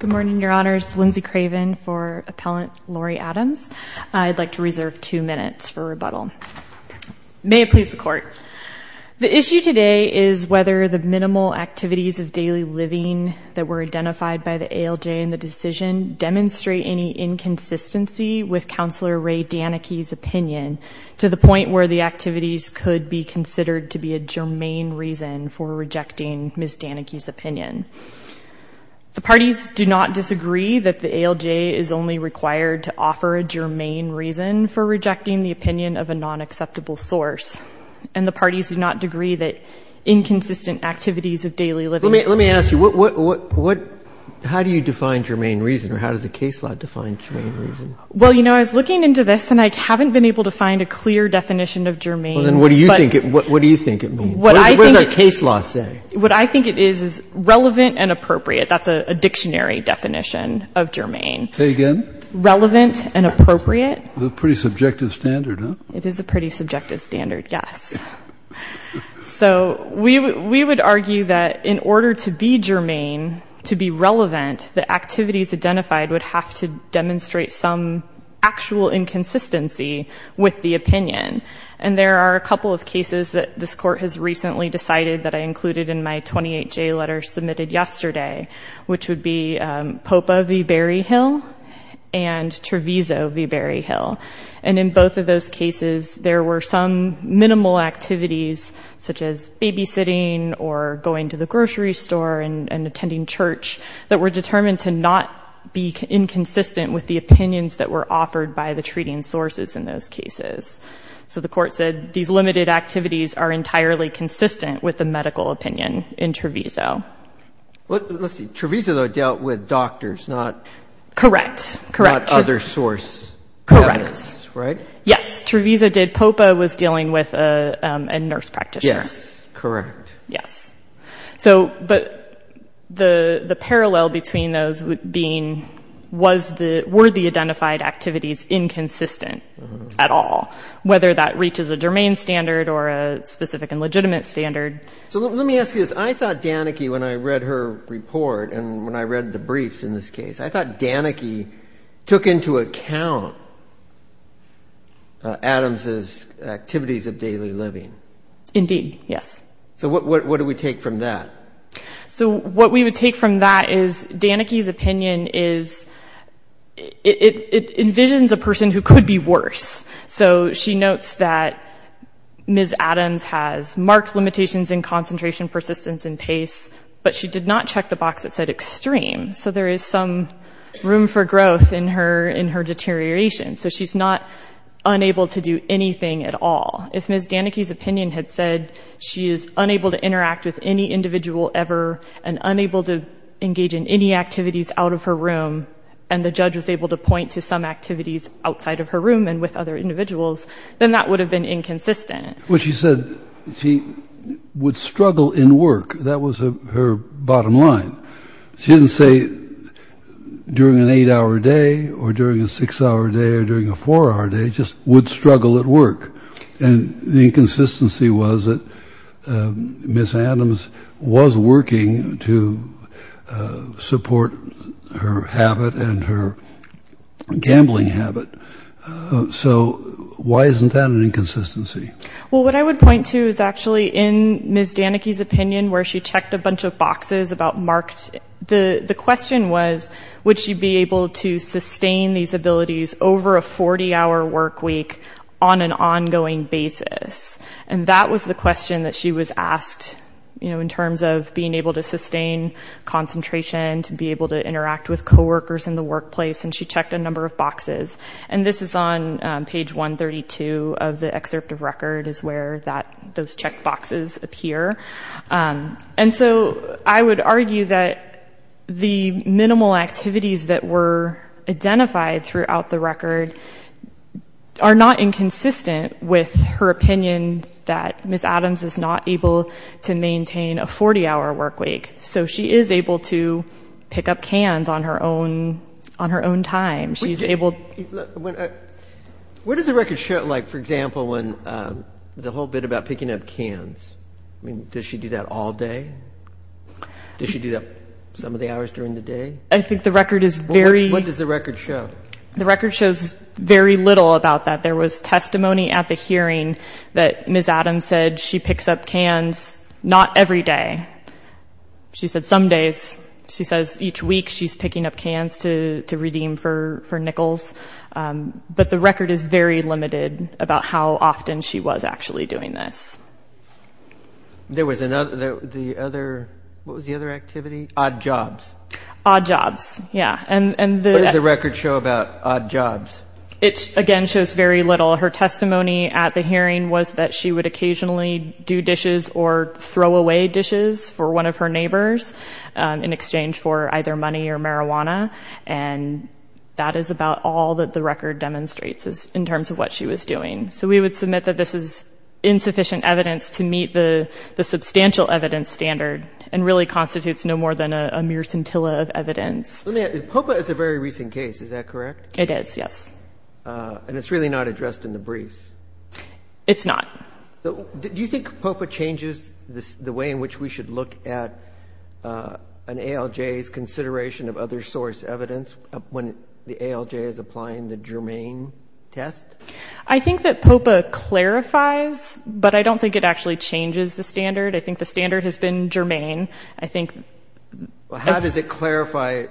Good morning, Your Honors. Lindsay Craven for Appellant Laurie Adams. I'd like to reserve two minutes for rebuttal. May it please the Court. The issue today is whether the minimal activities of daily living that were identified by the ALJ in the decision demonstrate any inconsistency with the ALJ's decision. The parties do not disagree that the ALJ is only required to offer a germane reason for rejecting the opinion of a non-acceptable source. And the parties do not agree that inconsistent activities of daily living... Let me ask you, how do you define germane reason or how does the case law define germane reason? Well, you know, I was looking into this and I haven't been able to find a clear definition of germane. Well, then what do you think it means? What does our case law say? What I think it is is relevant and appropriate. That's a dictionary definition of germane. Say again? Relevant and appropriate. That's a pretty subjective standard, huh? It is a pretty subjective standard, yes. So we would argue that in order to be germane, to be relevant, the activities identified would have to have some actual inconsistency with the opinion. And there are a couple of cases that this court has recently decided that I included in my 28-J letter submitted yesterday, which would be Popa v. Berryhill and Treviso v. Berryhill. And in both of those cases, there were some minimal activities such as babysitting or going to the grocery store and attending church that were determined to not be inconsistent with the opinions that were offered by the treating sources in those cases. So the court said these limited activities are entirely consistent with the medical opinion in Treviso. Let's see. Treviso, though, dealt with doctors, not... Correct. Correct. ...not other source evidence, right? Yes. Treviso did. Popa was dealing with a nurse practitioner. Yes. Correct. Yes. But the parallel between those being, were the identified activities inconsistent at all, whether that reaches a germane standard or a specific and legitimate standard? So let me ask you this. I thought Danneke, when I read her report and when I read the briefs in this case, I thought Danneke took into account Adams' activities of daily living. Indeed, yes. So what do we take from that? So what we would take from that is Danneke's opinion is, it envisions a person who could be worse. So she notes that Ms. Adams has marked limitations in concentration, persistence, and pace, but she did not check the box that said extreme. So there is some room for growth in her deterioration. So she's not unable to do anything at all. If Ms. Danneke's opinion had said she is unable to interact with any individual ever and unable to engage in any activities out of her room, and the judge was able to point to some activities outside of her room and with other individuals, then that would have been inconsistent. Well, she said she would struggle in work. That was her bottom line. She didn't say during an eight-hour day or during a six-hour day. Or during a four-hour day, just would struggle at work. And the inconsistency was that Ms. Adams was working to support her habit and her gambling habit. So why isn't that an inconsistency? Well, what I would point to is actually in Ms. Danneke's opinion where she checked a bunch of boxes about marked, the question was, would she be able to maintain those activities over a 40-hour work week on an ongoing basis? And that was the question that she was asked, you know, in terms of being able to sustain concentration, to be able to interact with coworkers in the workplace. And she checked a number of boxes. And this is on page 132 of the excerpt of record is where that, those check boxes appear. And so I would argue that the minimal activities that were identified throughout the record are not inconsistent with her opinion that Ms. Adams is not able to maintain a 40-hour work week. So she is able to pick up cans on her own time. What does the record show, like, for example, the whole bit about picking up cans? I mean, does she do that all day? Does she do that some of the hours during the day? I think the record is very... What does the record show? The record shows very little about that. There was testimony at the hearing that Ms. Adams said she picks up cans not every day. She said some days. She says each week she's picking up cans to redeem for nickels. But the record is very limited about how often she was actually doing this. There was another, the other, what was the other activity? Odd jobs. Odd jobs, yeah. And the... What does the record show about odd jobs? It, again, shows very little. Her testimony at the hearing was that she would occasionally do dishes or throw away dishes for one of her neighbors in exchange for either money or marijuana. And that is about all that the record demonstrates in terms of what she was doing. So we would submit that this is a very recent case, is that correct? It is, yes. And it's really not addressed in the briefs? It's not. Do you think POPA changes the way in which we should look at an ALJ's consideration of other source evidence when the ALJ is applying the Germain test? I think that POPA clarifies, but I don't think it actually changes the way in which we should look at an ALJ's consideration of other source evidence. I don't think that changes the standard. I think the standard has been Germain. I think... How does it clarify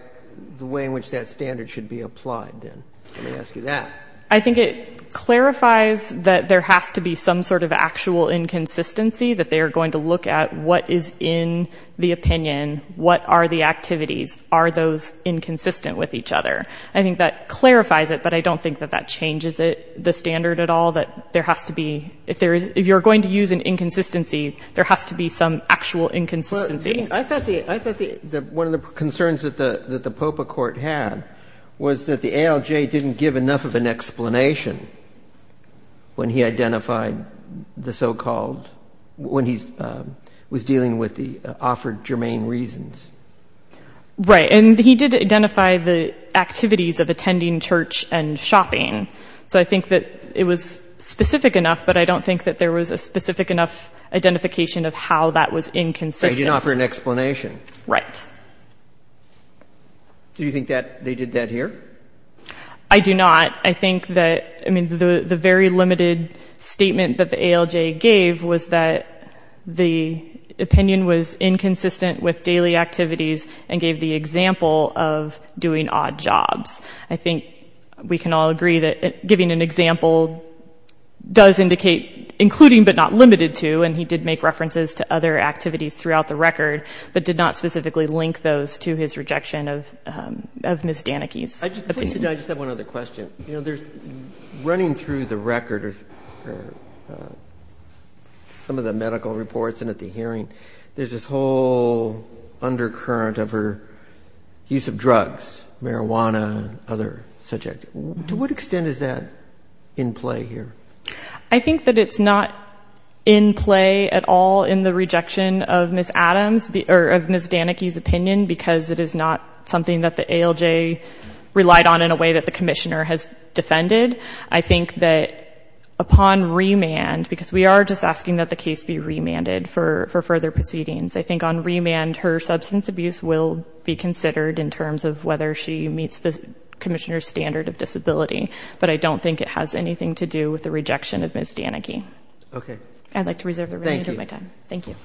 the way in which that standard should be applied, then? Let me ask you that. I think it clarifies that there has to be some sort of actual inconsistency, that they are going to look at what is in the opinion, what are the activities, are those inconsistent with each other. I think that clarifies it, but I don't think that that changes the standard at all, that there has to be... If you're going to use an inconsistency, there has to be some actual inconsistency. Well, I thought the one of the concerns that the POPA court had was that the ALJ didn't give enough of an explanation when he identified the so-called, when he was dealing with the offered Germain reasons. Right. And he did identify the activities of attending church and shopping. So I think that it was specific enough, but I don't think that there was a specific enough identification of how that was inconsistent. They didn't offer an explanation. Right. Do you think that they did that here? I do not. I think that, I mean, the very limited statement that the ALJ gave was that the opinion was inconsistent with daily activities and gave the example of doing odd jobs. I think we can all agree that giving an example does indicate, including but not limited to, and he did make references to other activities throughout the record, but did not specifically link those to his rejection of Ms. Danicki's opinion. I just have one other question. You know, there's, running through the record, some of the medical reports and at the hearing, there's this whole undercurrent of her use of drugs, marijuana, and other subjects. To what extent is that in play here? I think that it's not in play at all in the rejection of Ms. Adams, or of Ms. Danicki's opinion, because it is not something that the ALJ relied on in a way that the Commissioner has defended. I think that upon remand, because we are just asking that the case be remanded for further proceedings, I think on remand, her substance abuse will be considered in terms of whether she meets the Commissioner's standard of disability, but I don't think it has anything to do with the rejection of Ms. Danicki. I'd like to reserve the remainder of my time. Thank you.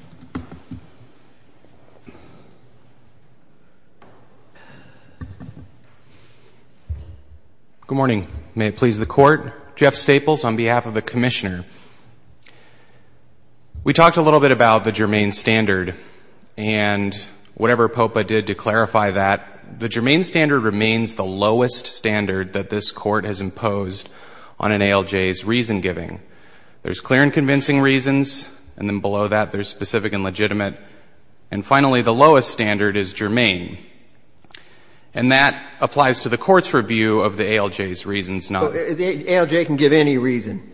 Good morning. May it please the Court. Jeff Staples on behalf of the Commissioner. We talked a little bit about the germane standard, and whatever POPA did to clarify that, the germane standard remains the lowest standard that this Court has imposed on an ALJ's reason giving. There's clear and convincing reasons, and then below that, there's specific and legitimate. And finally, the lowest standard is germane. And that applies to the Court's review of the ALJ's reasons, not mine. The ALJ can give any reason.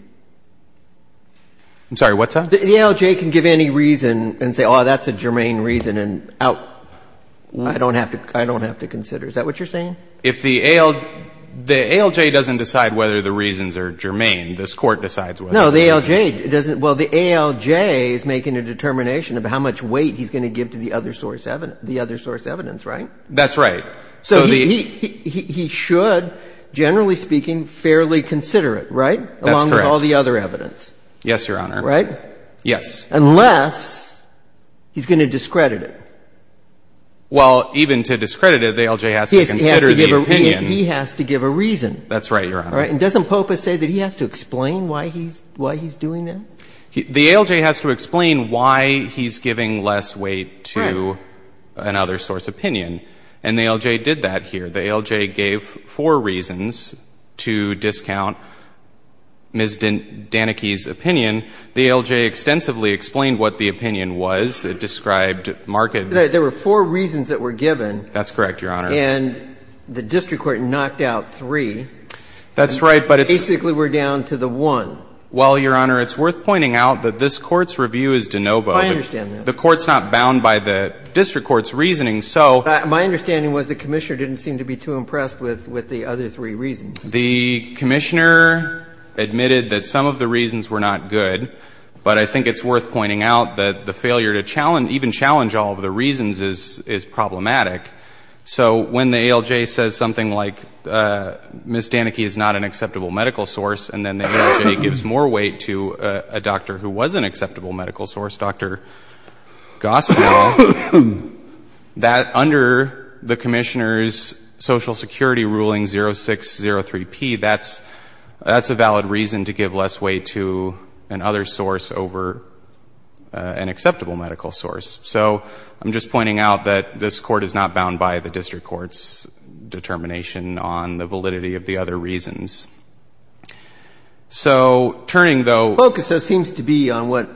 I'm sorry, what's that? The ALJ can give any reason and say, oh, that's a germane reason, and I don't have to consider. Is that what you're saying? If the ALJ doesn't decide whether the reasons are germane, this Court decides whether it's germane. No, the ALJ doesn't. Well, the ALJ is making a determination of how much weight he's going to give to the other source evidence, right? That's right. So he should, generally speaking, fairly consider it, right? That's correct. Along with all the other evidence. Yes, Your Honor. Right? Yes. Unless he's going to discredit it. Well, even to discredit it, the ALJ has to consider the opinion. He has to give a reason. That's right, Your Honor. And doesn't POPA say that he has to explain why he's doing that? The ALJ has to explain why he's giving less weight to another source opinion. And the ALJ did that here. The ALJ gave four reasons to discount Ms. Danicki's opinion. The ALJ extensively explained what the opinion was. It described, marked it. There were four reasons that were given. That's correct, Your Honor. And the district court knocked out three. That's right, but it's... Basically, we're down to the one. Well, Your Honor, it's worth pointing out that this Court's review is de novo. I understand that. The Court's not bound by the district court's reasoning, so... My understanding was the Commissioner didn't seem to be too impressed with the other three reasons. The Commissioner admitted that some of the reasons were not good, but I think it's worth pointing out that the failure to even challenge all of the reasons is problematic. So when the ALJ says something like, Ms. Danicki is not an acceptable medical source, and then the ALJ gives more weight to a doctor who was an acceptable medical source, Dr. Goswell, that under the Commissioner's Social Security ruling 0603P, that's a valid reason to give less weight to an other source over an acceptable medical source. So I'm just pointing out that this Court is not bound by the district court's determination on the validity of the other reasons. So turning, though... The focus, though, seems to be on what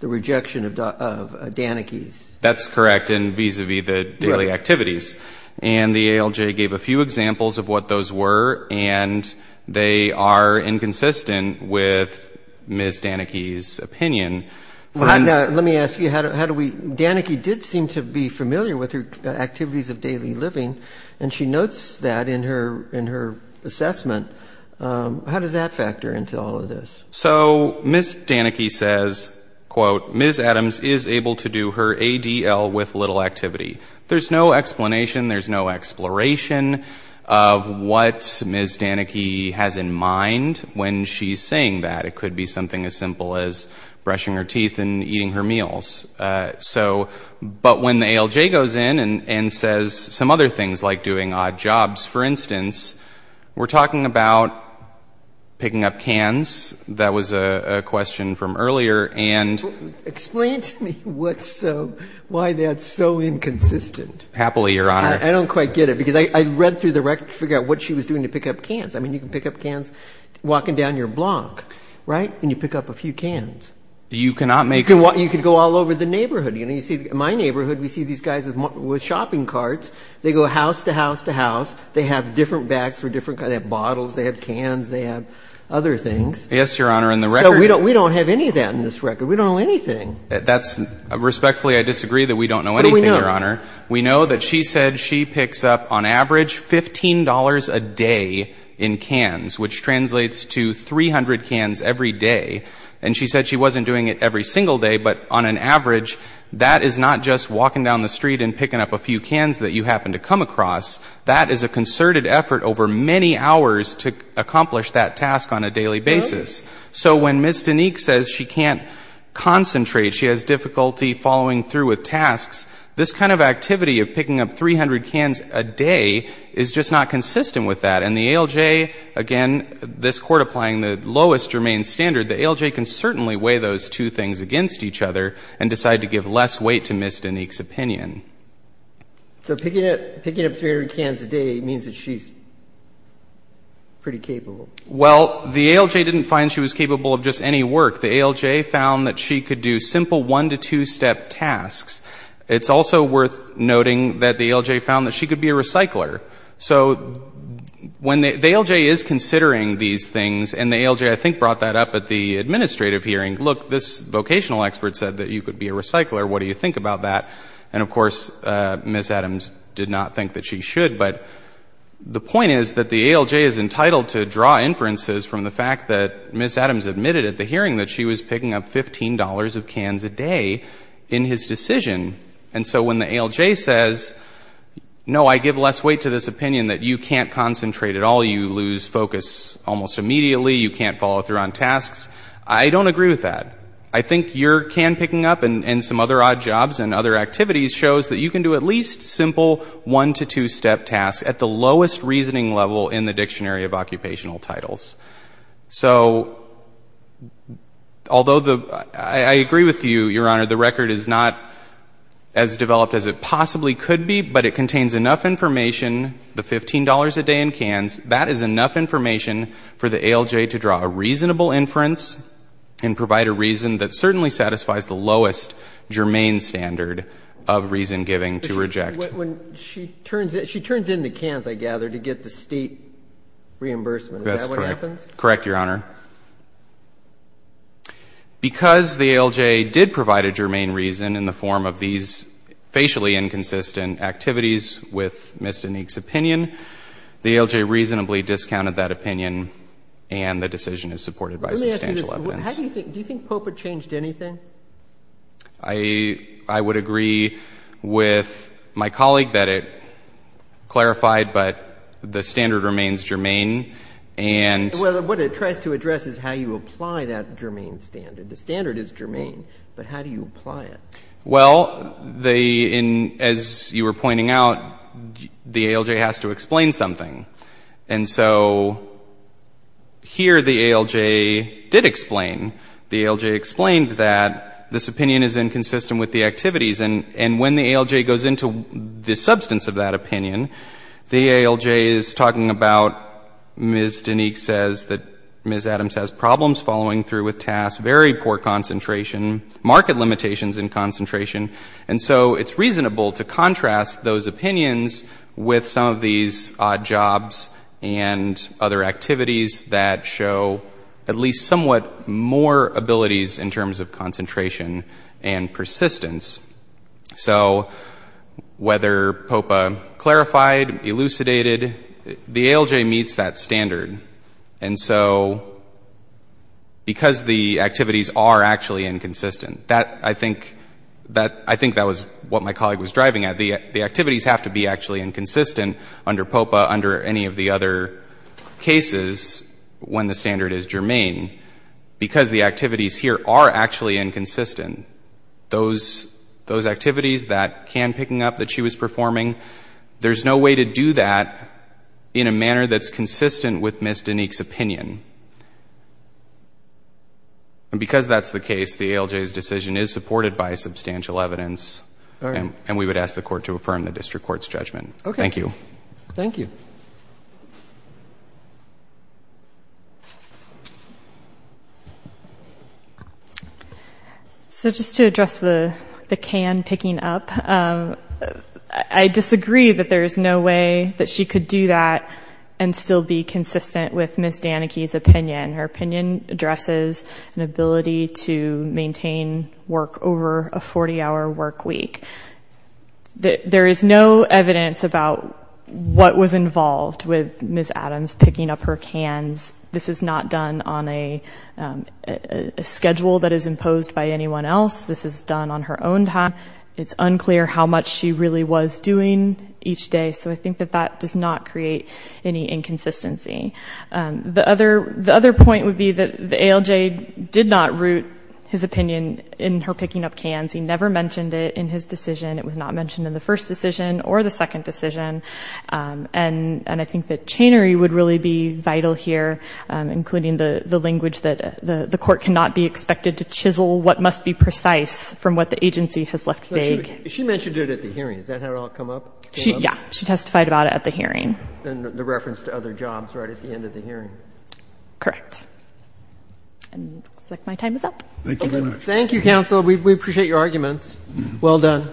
the rejection of Danicki's. That's correct, and vis-à-vis the daily activities. And the ALJ gave a few examples of what those were, and they are inconsistent with Ms. Danicki's opinion. Let me ask you, how do we... Danicki did seem to be familiar with her activities of daily living, and she notes that in her assessment of her activities, how does that factor into all of this? So Ms. Danicki says, quote, Ms. Adams is able to do her ADL with little activity. There's no explanation, there's no exploration of what Ms. Danicki has in mind when she's saying that. It could be something as simple as brushing her teeth and eating her meals. So, but when the ALJ goes in and says some other things, like doing odd jobs, for instance, we're talking about, you know, picking up cans, that was a question from earlier, and... Explain to me what's so... why that's so inconsistent. Happily, Your Honor. I don't quite get it, because I read through the record to figure out what she was doing to pick up cans. I mean, you can pick up cans walking down your block, right? And you pick up a few cans. You cannot make... You can go all over the neighborhood. You know, you see my neighborhood, we see these guys with shopping carts. They go house to house to house. They have different bags for different kinds. They have bottles, they have cans, they have other things. Yes, Your Honor, and the record... So we don't have any of that in this record. We don't know anything. That's... Respectfully, I disagree that we don't know anything, Your Honor. We know that she said she picks up, on average, $15 a day in cans, which translates to 300 cans every day. And she said she wasn't doing it every single day, but on an average, that is not just walking down the street and picking up a few cans that you happen to come across. That is a concerted effort over many hours to accomplish that task on a daily basis. So when Ms. Dineke says she can't concentrate, she has difficulty following through with tasks, this kind of activity of picking up 300 cans a day is just not consistent with that. And the ALJ, again, this Court applying the lowest germane standard, the ALJ can certainly weigh those two things against each other and decide to give less weight to Ms. Dineke's opinion. So picking up 300 cans a day means that she's pretty capable? Well, the ALJ didn't find she was capable of just any work. The ALJ found that she could do simple one- to two-step tasks. It's also worth noting that the ALJ found that she could be a recycler. So the ALJ is considering these things, and the ALJ, I think, brought that up at the administrative hearing. Look, this vocational expert said that you could be a recycler. What do you think about that? And, of course, Ms. Adams did not think that she should, but the point is that the ALJ is entitled to draw inferences from the fact that Ms. Adams admitted at the hearing that she was picking up $15 of cans a day in his decision. And so when the ALJ says, no, I give less weight to this opinion that you can't concentrate at all, you lose focus almost immediately, you can't follow through on tasks, I don't agree with that. I think your can picking up and some other odd jobs and other activities shows that you can do at least simple one- to two-step tasks at the lowest reasoning level in the Dictionary of Occupational Titles. So, although the, I agree with you, Your Honor, the record is not as developed as it possibly could be, but it contains enough information, the $15 a day in cans, that is enough information for the ALJ to draw a reasonable inference and provide a reasonable inference. And the ALJ did provide a reason that certainly satisfies the lowest germane standard of reason giving to reject. She turns in the cans, I gather, to get the state reimbursement. Is that what happens? That's correct. Correct, Your Honor. Because the ALJ did provide a germane reason in the form of these facially inconsistent activities with Ms. Dineke's opinion, the ALJ reasonably discounted that opinion and the decision is supported by substantial evidence. Let me ask you this. Do you think POPA changed anything? I would agree with my colleague that it clarified, but the standard remains germane. What it tries to address is how you apply that germane standard. The standard is germane, but how do you apply it? Well, as you were pointing out, the ALJ has to explain something. And so here the ALJ did explain. The ALJ explained that this opinion is inconsistent with the activities. And when the ALJ goes into the substance of that opinion, the ALJ is talking about Ms. Dineke says that Ms. Adams has problems following through with tasks, very poor concentration, market limitations in concentration. And so it's reasonable to contrast those opinions with some of these odd jobs and other activities that show at least somewhat more abilities in terms of concentration and persistence. So whether POPA clarified, elucidated, the ALJ meets that standard. And so because the activities are actually inconsistent, I think that the ALJ meets that standard. I think that was what my colleague was driving at. The activities have to be actually inconsistent under POPA, under any of the other cases when the standard is germane, because the activities here are actually inconsistent. Those activities, that can picking up that she was performing, there's no way to do that in a manner that's consistent with Ms. Dineke's opinion. And because that's the case, the ALJ's decision is supported by substantial evidence. And we would ask the court to affirm the district court's judgment. Thank you. So just to address the can picking up, I disagree that there's no way that she could do that and still be consistent with Ms. Dineke's opinion. Her opinion addresses an ability to maintain work over a 40-hour work week. There is no evidence about what was involved with Ms. Adams picking up her cans. This is not done on a schedule that is imposed by anyone else. This is done on her own time. It's unclear how much she really was doing each day. So I think that that does not create any inconsistency. The other point would be that the ALJ did not root his opinion in her picking up cans. He never mentioned it in his decision. It was not mentioned in the first decision or the second decision. And I think that chainery would really be vital here, including the language that the court cannot be expected to chisel what must be precise from what the agency has left vague. She mentioned it at the hearing. Is that how it all came up? Yeah. She testified about it at the hearing. And the reference to other jobs right at the end of the hearing. Correct. And it looks like my time is up. Thank you, counsel. We appreciate your arguments. Well done.